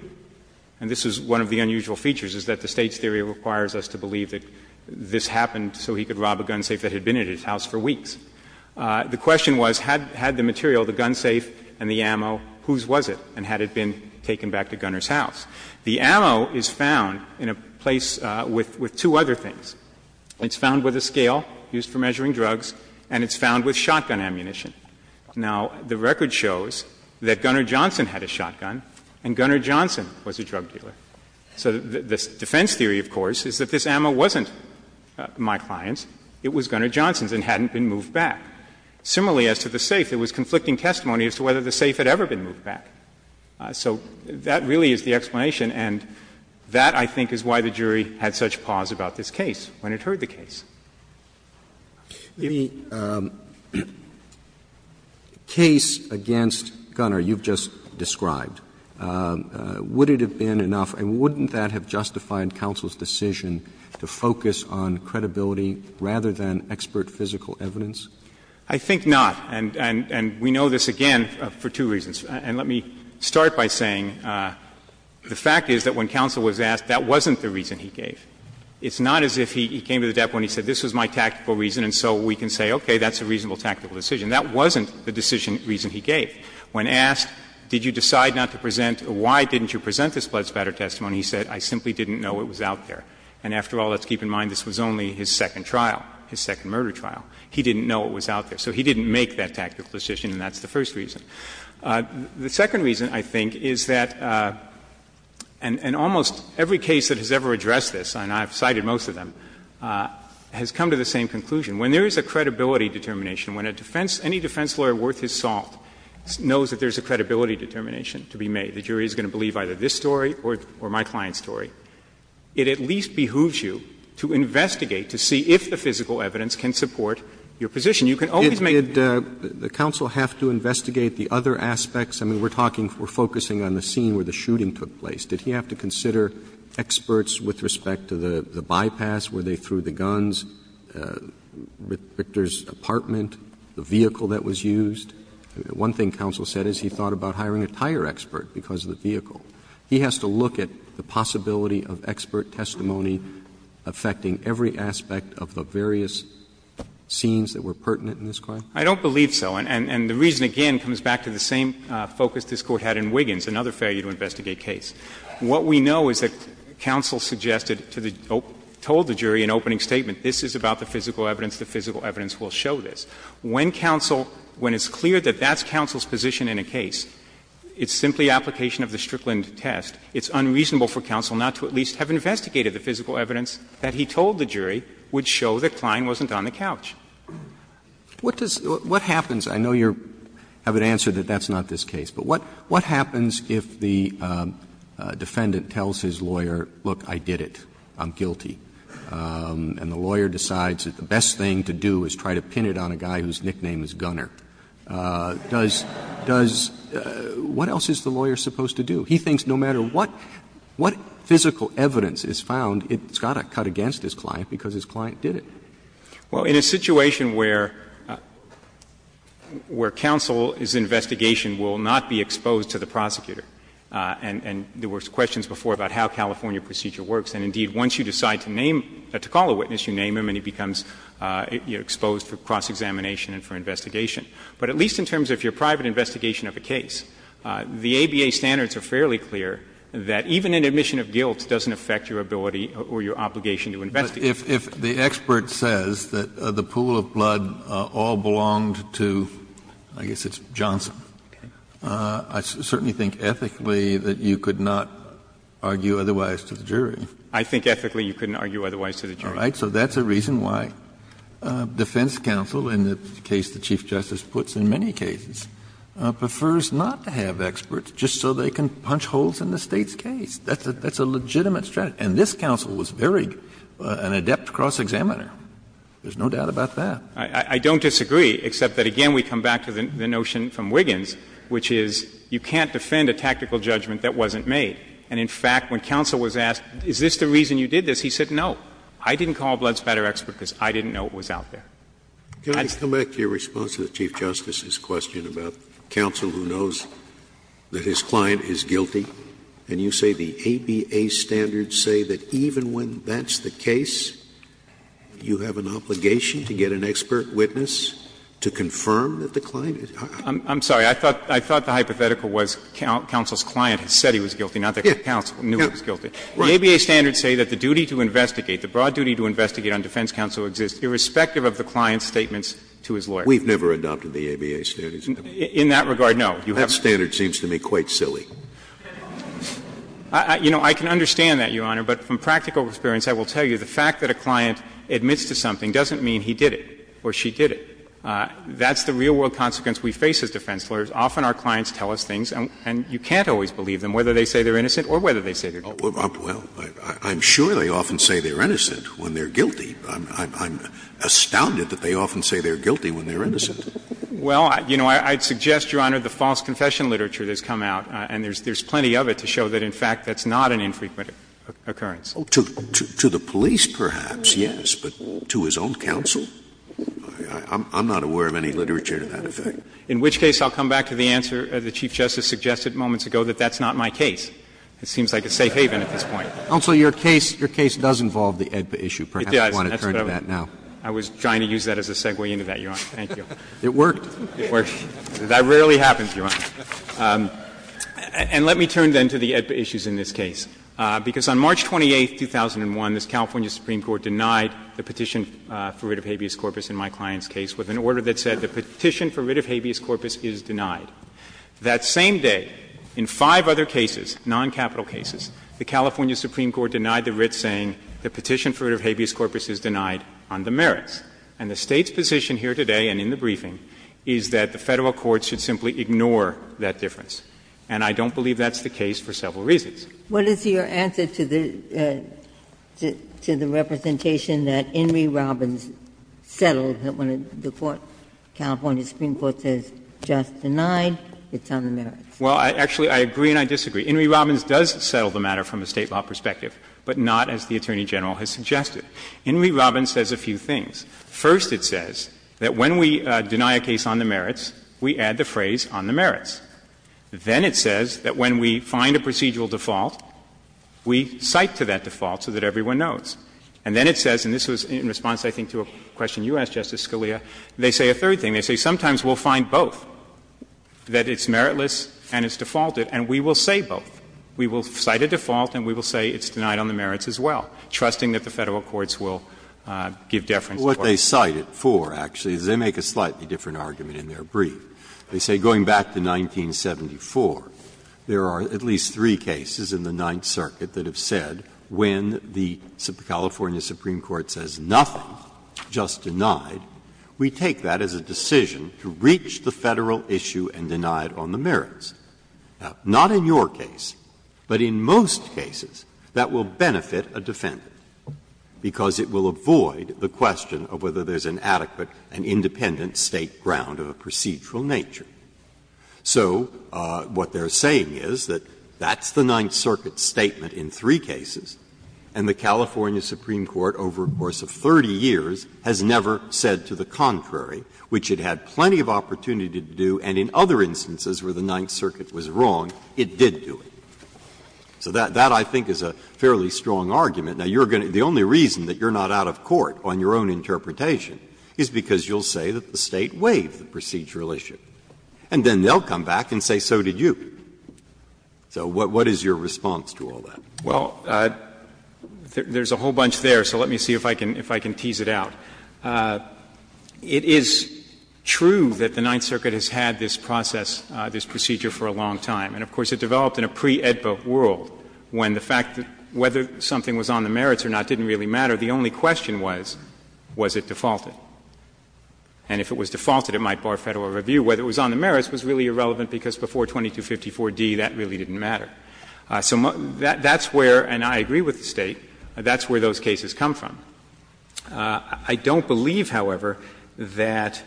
And this is one of the unusual features, is that the State's theory requires us to believe that this happened so he could rob a gun safe that had been at his house for weeks. The question was, had the material, the gun safe and the ammo, whose was it, and had it been taken back to Gunner's house? The ammo is found in a place with two other things. It's found with a scale used for measuring drugs, and it's found with shotgun ammunition. Now, the record shows that Gunner Johnson had a shotgun, and Gunner Johnson was a drug So the defense theory, of course, is that this ammo wasn't my client's. It was Gunner Johnson's and hadn't been moved back. Similarly, as to the safe, there was conflicting testimony as to whether the safe had ever been moved back. So that really is the explanation, and that, I think, is why the jury had such pause about this case. When it heard the case. Roberts The case against Gunner you've just described, would it have been enough, and wouldn't that have justified counsel's decision to focus on credibility rather than expert physical evidence? I think not. And we know this, again, for two reasons. And let me start by saying the fact is that when counsel was asked, that wasn't the reason he gave. It's not as if he came to the debt when he said, this was my tactical reason, and so we can say, okay, that's a reasonable tactical decision. That wasn't the decision reason he gave. When asked, did you decide not to present, why didn't you present this blood spatter testimony, he said, I simply didn't know it was out there. And after all, let's keep in mind, this was only his second trial, his second murder trial. He didn't know it was out there. So he didn't make that tactical decision, and that's the first reason. The second reason, I think, is that, and almost every case that has ever addressed this, and I have cited most of them, has come to the same conclusion. When there is a credibility determination, when a defense, any defense lawyer worth his salt knows that there is a credibility determination to be made, the jury is going to believe either this story or my client's story, it at least behooves you to investigate, to see if the physical evidence can support your position. You can always make a case. But did he also have to investigate the other aspects? I mean, we're talking, we're focusing on the scene where the shooting took place. Did he have to consider experts with respect to the bypass, where they threw the guns, Victor's apartment, the vehicle that was used? One thing counsel said is he thought about hiring a tire expert because of the vehicle. He has to look at the possibility of expert testimony affecting every aspect of the And the reason, again, comes back to the same focus this Court had in Wiggins, another failure to investigate case. What we know is that counsel suggested to the jury, told the jury in opening statement, this is about the physical evidence, the physical evidence will show this. When counsel, when it's clear that that's counsel's position in a case, it's simply application of the Strickland test, it's unreasonable for counsel not to at least have investigated the physical evidence that he told the jury would show that Klein wasn't on the couch. Roberts. What does, what happens, I know you're, have an answer that that's not this case, but what happens if the defendant tells his lawyer, look, I did it, I'm guilty, and the lawyer decides that the best thing to do is try to pin it on a guy whose nickname is Gunner? Does, does, what else is the lawyer supposed to do? He thinks no matter what, what physical evidence is found, it's got to cut against his client because his client did it. Well, in a situation where, where counsel's investigation will not be exposed to the prosecutor, and there were questions before about how California procedure works, and indeed, once you decide to name, to call a witness, you name him and he becomes exposed for cross-examination and for investigation, but at least in terms of your private investigation of a case, the ABA standards are fairly clear that even an admission of guilt doesn't affect your ability or your obligation to investigate. If, if the expert says that the pool of blood all belonged to, I guess it's Johnson, I certainly think ethically that you could not argue otherwise to the jury. I think ethically you couldn't argue otherwise to the jury. All right. So that's a reason why defense counsel, in the case the Chief Justice puts in many cases, prefers not to have experts just so they can punch holes in the State's case. That's a legitimate strategy. And this counsel was very, an adept cross-examiner. There's no doubt about that. I don't disagree, except that again we come back to the notion from Wiggins, which is you can't defend a tactical judgment that wasn't made. And in fact, when counsel was asked, is this the reason you did this, he said no. I didn't call Bloods Better expert because I didn't know it was out there. Scalia. Can I come back to your response to the Chief Justice's question about counsel who knows that his client is guilty, and you say the ABA standards say that even when that's the case, you have an obligation to get an expert witness to confirm that the client is? I'm sorry, I thought, I thought the hypothetical was counsel's client said he was guilty, not that counsel knew he was guilty. The ABA standards say that the duty to investigate, the broad duty to investigate on defense counsel exists irrespective of the client's statements to his lawyer. We've never adopted the ABA standards. In that regard, no. That standard seems to me quite silly. You know, I can understand that, Your Honor, but from practical experience I will tell you the fact that a client admits to something doesn't mean he did it or she did it. That's the real world consequence we face as defense lawyers. Often our clients tell us things and you can't always believe them, whether they say they're innocent or whether they say they're guilty. Scalia, well, I'm sure they often say they're innocent when they're guilty. I'm astounded that they often say they're guilty when they're innocent. Well, you know, I'd suggest, Your Honor, the false confession literature that's come out, and there's plenty of it to show that, in fact, that's not an infrequent occurrence. To the police, perhaps, yes, but to his own counsel? I'm not aware of any literature to that effect. In which case, I'll come back to the answer the Chief Justice suggested moments ago that that's not my case. It seems like a safe haven at this point. Roberts, Your case does involve the AEDPA issue. Perhaps you want to turn to that now. I was trying to use that as a segue into that, Your Honor. Thank you. It worked. It worked. That rarely happens, Your Honor. And let me turn, then, to the AEDPA issues in this case, because on March 28, 2001, this California Supreme Court denied the petition for writ of habeas corpus in my client's case with an order that said the petition for writ of habeas corpus is denied. That same day, in five other cases, noncapital cases, the California Supreme Court denied the writ saying the petition for writ of habeas corpus is denied on the merits. And the State's position here today and in the briefing is that the Federal court should simply ignore that difference. And I don't believe that's the case for several reasons. Ginsburg, what is your answer to the representation that Inree Robbins settled the matter from a State law perspective, but not as the Attorney General has suggested? Inree Robbins says a few things. First, it says that when we deny a case on the merits, we add the phrase on the merits. Then it says that when we find a procedural default, we cite to that default so that everyone knows. And then it says, and this was in response, I think, to a question you asked, Justice Scalia, they say a third thing. They say sometimes we'll find both, that it's meritless and it's defaulted, and we will say both. We will cite a default and we will say it's denied on the merits as well, trusting that the Federal courts will give deference to both. Breyer. What they cite it for, actually, is they make a slightly different argument in their brief. They say going back to 1974, there are at least three cases in the Ninth Circuit that have said when the California Supreme Court says nothing, just denied, we take that as a decision to reach the Federal issue and deny it on the merits. Now, not in your case, but in most cases, that will benefit a defendant, because it will avoid the question of whether there's an adequate and independent State ground of a procedural nature. So what they're saying is that that's the Ninth Circuit's statement in three cases, and the California Supreme Court over a course of 30 years has never said to the contrary, which it had plenty of opportunity to do, and in other instances where the Ninth Circuit was wrong, it did do it. So that, I think, is a fairly strong argument. Now, you're going to be the only reason that you're not out of court on your own interpretation is because you'll say that the State waived the procedural issue, and then they'll come back and say so did you. So what is your response to all that? Well, there's a whole bunch there, so let me see if I can tease it out. It is true that the Ninth Circuit has had this process, this procedure for a long time, and of course it developed in a pre-AEDPA world when the fact that whether something was on the merits or not didn't really matter. The only question was, was it defaulted? And if it was defaulted, it might bar Federal review. Whether it was on the merits was really irrelevant because before 2254d, that really didn't matter. So that's where, and I agree with the State, that's where those cases come from. I don't believe, however, that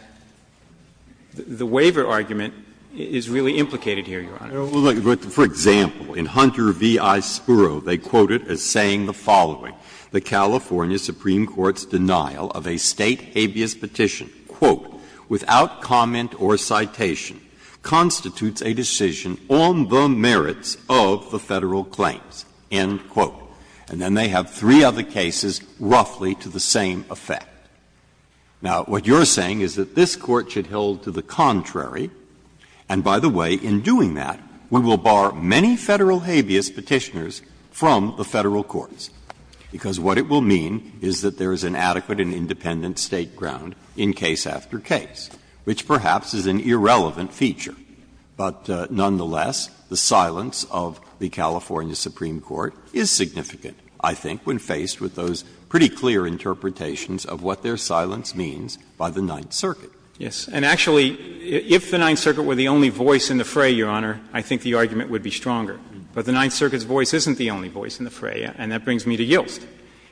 the waiver argument is really implicated here, Your Honor. Breyer. Well, look, for example, in Hunter v. I. Spurrow, they quote it as saying the following. The California Supreme Court's denial of a State habeas petition, quote, without comment or citation, constitutes a decision on the merits of the Federal claims, end quote. And then they have three other cases roughly to the same effect. Now, what you're saying is that this Court should hold to the contrary, and by the way, in doing that, we will bar many Federal habeas petitioners from the Federal courts, because what it will mean is that there is an adequate and independent State ground in case after case, which perhaps is an irrelevant feature. But nonetheless, the silence of the California Supreme Court is significant, I think, when faced with those pretty clear interpretations of what their silence means by the Ninth Circuit. Yes. And actually, if the Ninth Circuit were the only voice in the fray, Your Honor, I think the argument would be stronger. But the Ninth Circuit's voice isn't the only voice in the fray, and that brings me to Yilts.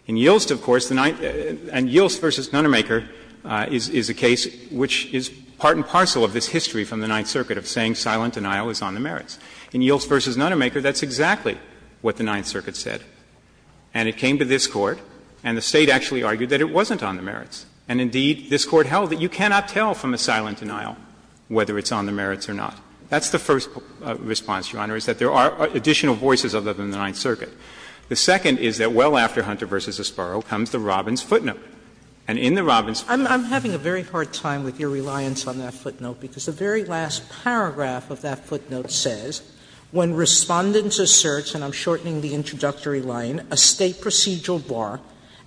In Yilts, of course, the Ninth and Yilts v. Nunnermaker is a case which is part and parcel of this history from the Ninth Circuit of saying silent denial is on the merits. In Yilts v. Nunnermaker, that's exactly what the Ninth Circuit said. And it came to this Court, and the State actually argued that it wasn't on the merits. And indeed, this Court held that you cannot tell from a silent denial whether it's on the merits or not. That's the first response, Your Honor, is that there are additional voices other than the Ninth Circuit. The second is that well after Hunter v. Esparro comes the Robbins footnote. And in the Robbins footnote, the State says, Sotomayor, I'm having a very hard time with your reliance on that footnote, because the very last paragraph of that footnote says, When Respondents asserts, and I'm shortening the introductory line, a State procedural bar,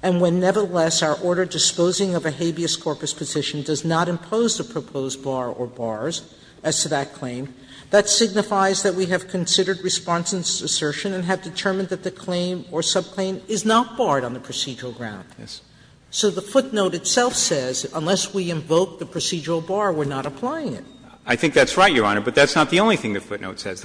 and when nevertheless our order disposing of a habeas corpus position does not impose the proposed bar or bars as to that claim, that signifies that we have considered Respondents' assertion and have determined that the claim or subclaim is not barred on the procedural ground. So the footnote itself says, unless we invoke the procedural bar, we're not applying it. I think that's right, Your Honor, but that's not the only thing the footnote says.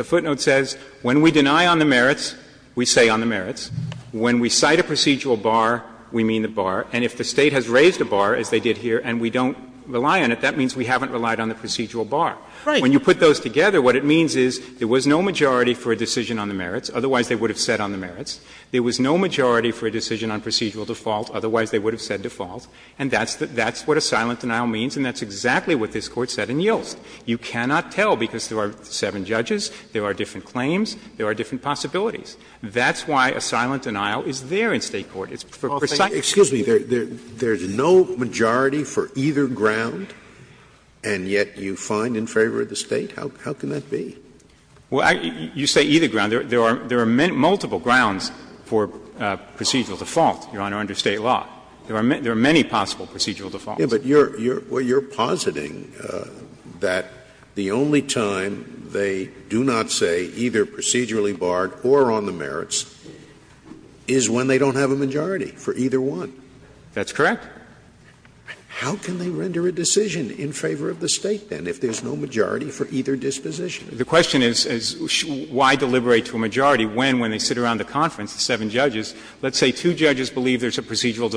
When we deny on the merits, we say on the merits. When we cite a procedural bar, we mean the bar. And if the State has raised a bar, as they did here, and we don't rely on it, that means we haven't relied on the procedural bar. When you put those together, what it means is there was no majority for a decision on the merits, otherwise they would have said on the merits. There was no majority for a decision on procedural default, otherwise they would have said default. And that's what a silent denial means, and that's exactly what this Court said in Yilts. You cannot tell because there are seven judges, there are different claims, there are different possibilities. That's why a silent denial is there in State court. It's for precise reasons. Scalia, there's no majority for either ground, and yet you find in favor of the State? How can that be? Well, you say either ground. There are multiple grounds for procedural default, Your Honor, under State law. There are many possible procedural defaults. But you're positing that the only time they do not say either procedurally barred or on the merits is when they don't have a majority for either one. That's correct. How can they render a decision in favor of the State, then, if there's no majority for either disposition? The question is why deliberate to a majority when, when they sit around the conference, the seven judges, let's say two judges believe there's a procedural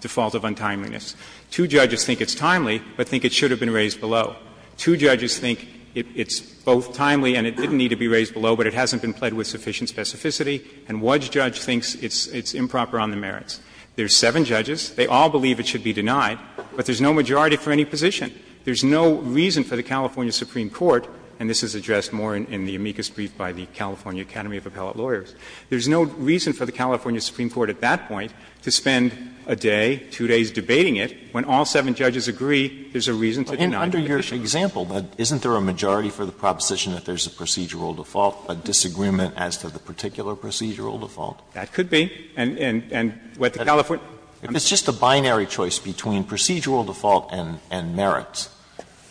default of untimeliness. Two judges think it's timely, but think it should have been raised below. Two judges think it's both timely and it didn't need to be raised below, but it hasn't been played with sufficient specificity, and one judge thinks it's improper on the merits. There's seven judges. They all believe it should be denied, but there's no majority for any position. There's no reason for the California Supreme Court, and this is addressed more in the amicus brief by the California Academy of Appellate Lawyers. There's no reason for the California Supreme Court at that point to spend a day, two days debating it, when all seven judges agree there's a reason to deny the position. Alito, under your example, isn't there a majority for the proposition that there's a procedural default, a disagreement as to the particular procedural default? That could be. And what the California Supreme Court says is that there's a majority for the position that there's a procedural default, a disagreement as to the particular procedural default. If it's just a binary choice between procedural default and merits,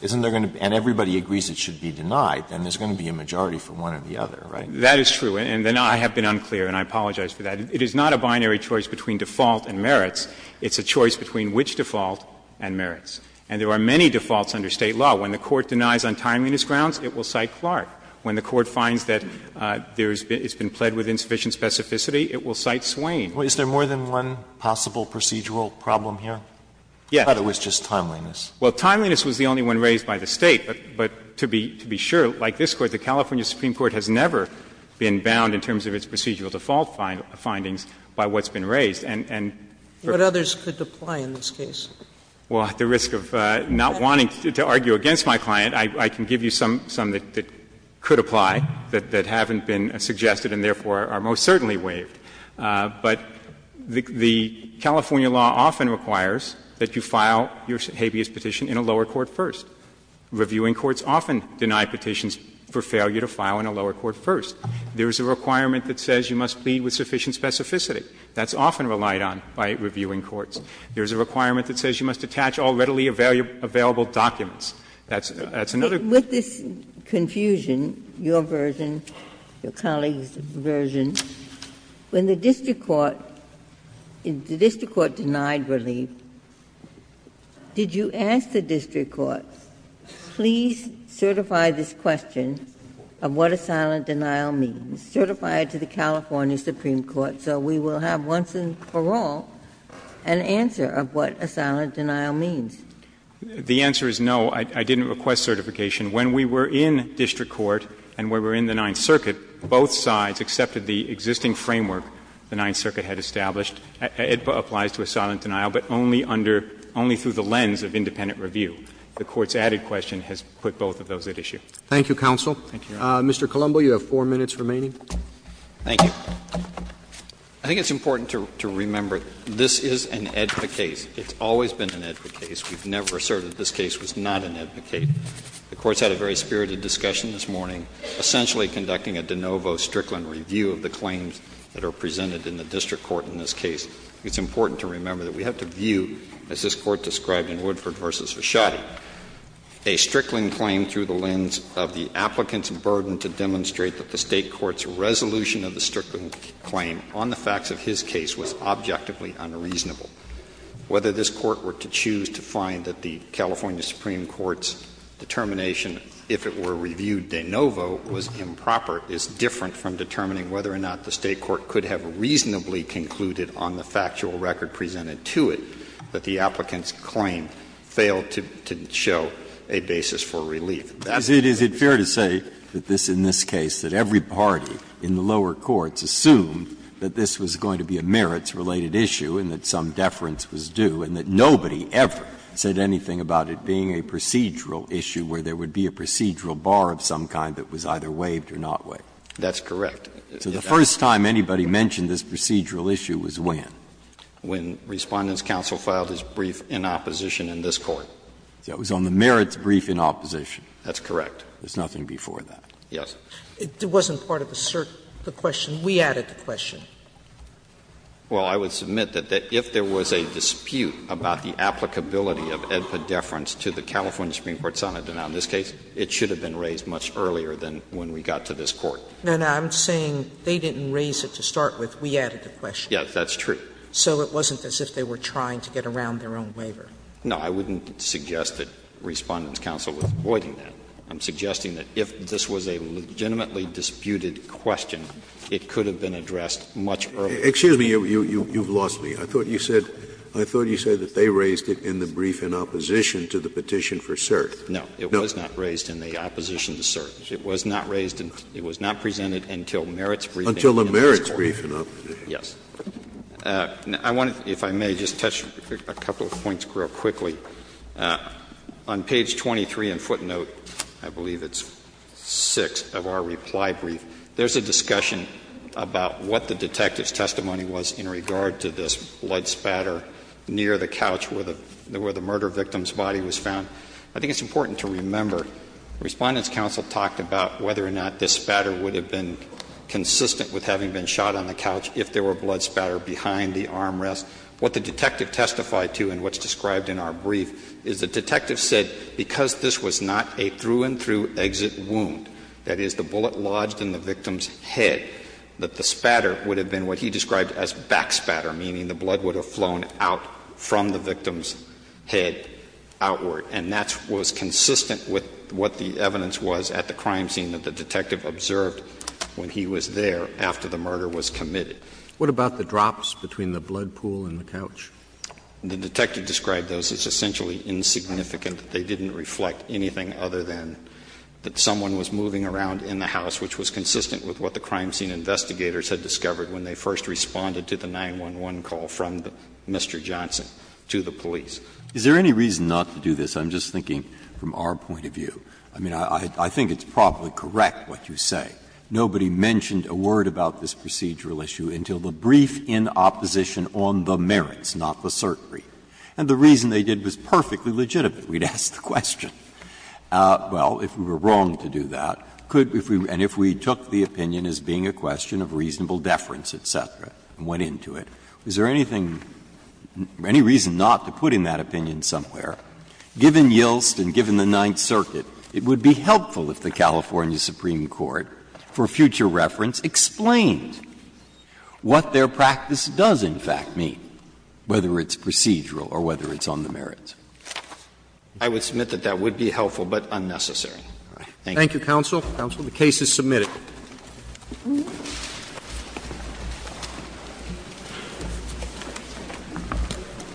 isn't there going to be and everybody agrees it should be denied, then there's going to be a majority for one or the other, right? That is true, and I have been unclear, and I apologize for that. It is not a binary choice between default and merits. It's a choice between which default and merits. And there are many defaults under State law. When the Court denies on timeliness grounds, it will cite Clark. When the Court finds that there's been plead with insufficient specificity, it will cite Swain. Sotomayor, is there more than one possible procedural problem here? Yes. I thought it was just timeliness. Well, timeliness was the only one raised by the State. But to be sure, like this Court, the California Supreme Court has never been bound in terms of its procedural default findings by what's been raised. And for others could apply in this case. Well, at the risk of not wanting to argue against my client, I can give you some that could apply that haven't been suggested and therefore are most certainly waived. But the California law often requires that you file your habeas petition in a lower court first. Reviewing courts often deny petitions for failure to file in a lower court first. There is a requirement that says you must plead with sufficient specificity. That's often relied on by reviewing courts. There is a requirement that says you must attach all readily available documents. That's another. Ginsburg. With this confusion, your version, your colleague's version, when the district court, the district court denied relief, did you ask the district court, please certify this question of what a silent denial means, certify it to the California Supreme Court, so we will have once and for all an answer of what a silent denial means? The answer is no. I didn't request certification. When we were in district court and when we were in the Ninth Circuit, both sides accepted the existing framework the Ninth Circuit had established. It applies to a silent denial, but only under, only through the lens of independent review. The Court's added question has put both of those at issue. Thank you, counsel. Thank you, Your Honor. Mr. Colombo, you have four minutes remaining. Thank you. I think it's important to remember this is an AEDPA case. It's always been an AEDPA case. We've never asserted this case was not an AEDPA case. The Court's had a very spirited discussion this morning, essentially conducting a de novo Strickland review of the claims that are presented in the district court in this case. It's important to remember that we have to view, as this Court described in Woodford v. Vachotte, a Strickland claim through the lens of the applicant's burden to demonstrate that the State court's resolution of the Strickland claim on the facts of his case was objectively unreasonable. Whether this Court were to choose to find that the California Supreme Court's determination, if it were reviewed de novo, was improper is different from determining whether or not the State court could have reasonably concluded on the factual record presented to it that the applicant's claim failed to show a basis for relief. Breyer. Is it fair to say that this, in this case, that every party in the lower courts assumed that this was going to be a merits-related issue and that some deference was due and that nobody ever said anything about it being a procedural issue where there would be a procedural bar of some kind that was either waived or not waived? That's correct. So the first time anybody mentioned this procedural issue was when? When Respondents' counsel filed its brief in opposition in this Court. So it was on the merits brief in opposition. That's correct. There's nothing before that. Yes. It wasn't part of the question. We added the question. Well, I would submit that if there was a dispute about the applicability of AEDPA deference to the California Supreme Court's sonnet denial in this case, it should have been raised much earlier than when we got to this Court. No, no. I'm saying they didn't raise it to start with. We added the question. Yes, that's true. So it wasn't as if they were trying to get around their own waiver. No, I wouldn't suggest that Respondents' counsel was avoiding that. I'm suggesting that if this was a legitimately disputed question, it could have been addressed much earlier. Excuse me, you've lost me. I thought you said they raised it in the brief in opposition to the petition for cert. No. No. It was not raised in the opposition to cert. It was not raised and it was not presented until merits briefing in this Court. Until the merits brief in opposition. Yes. I want to, if I may, just touch a couple of points real quickly. On page 23 in footnote, I believe it's six of our reply brief, there's a discussion about what the detective's testimony was in regard to this blood spatter near the couch where the murder victim's body was found. I think it's important to remember Respondents' counsel talked about whether or not this was a blood spatter behind the armrest. What the detective testified to and what's described in our brief is the detective said because this was not a through-and-through exit wound, that is, the bullet lodged in the victim's head, that the spatter would have been what he described as back spatter, meaning the blood would have flown out from the victim's head outward. And that was consistent with what the evidence was at the crime scene that the detective observed when he was there after the murder was committed. What about the drops between the blood pool and the couch? The detective described those as essentially insignificant. They didn't reflect anything other than that someone was moving around in the house, which was consistent with what the crime scene investigators had discovered when they first responded to the 911 call from Mr. Johnson to the police. Is there any reason not to do this? I'm just thinking from our point of view. I mean, I think it's probably correct what you say. Nobody mentioned a word about this procedural issue until the brief in opposition on the merits, not the certainty. And the reason they did was perfectly legitimate. We'd ask the question, well, if we were wrong to do that, could we be ---- and if we took the opinion as being a question of reasonable deference, et cetera, and went into it, is there anything, any reason not to put in that opinion somewhere? Given Yilst and given the Ninth Circuit, it would be helpful if the California Supreme Court, for future reference, explained what their practice does, in fact, mean, whether it's procedural or whether it's on the merits. I would submit that that would be helpful, but unnecessary. Thank you. Thank you, counsel. Counsel, the case is submitted.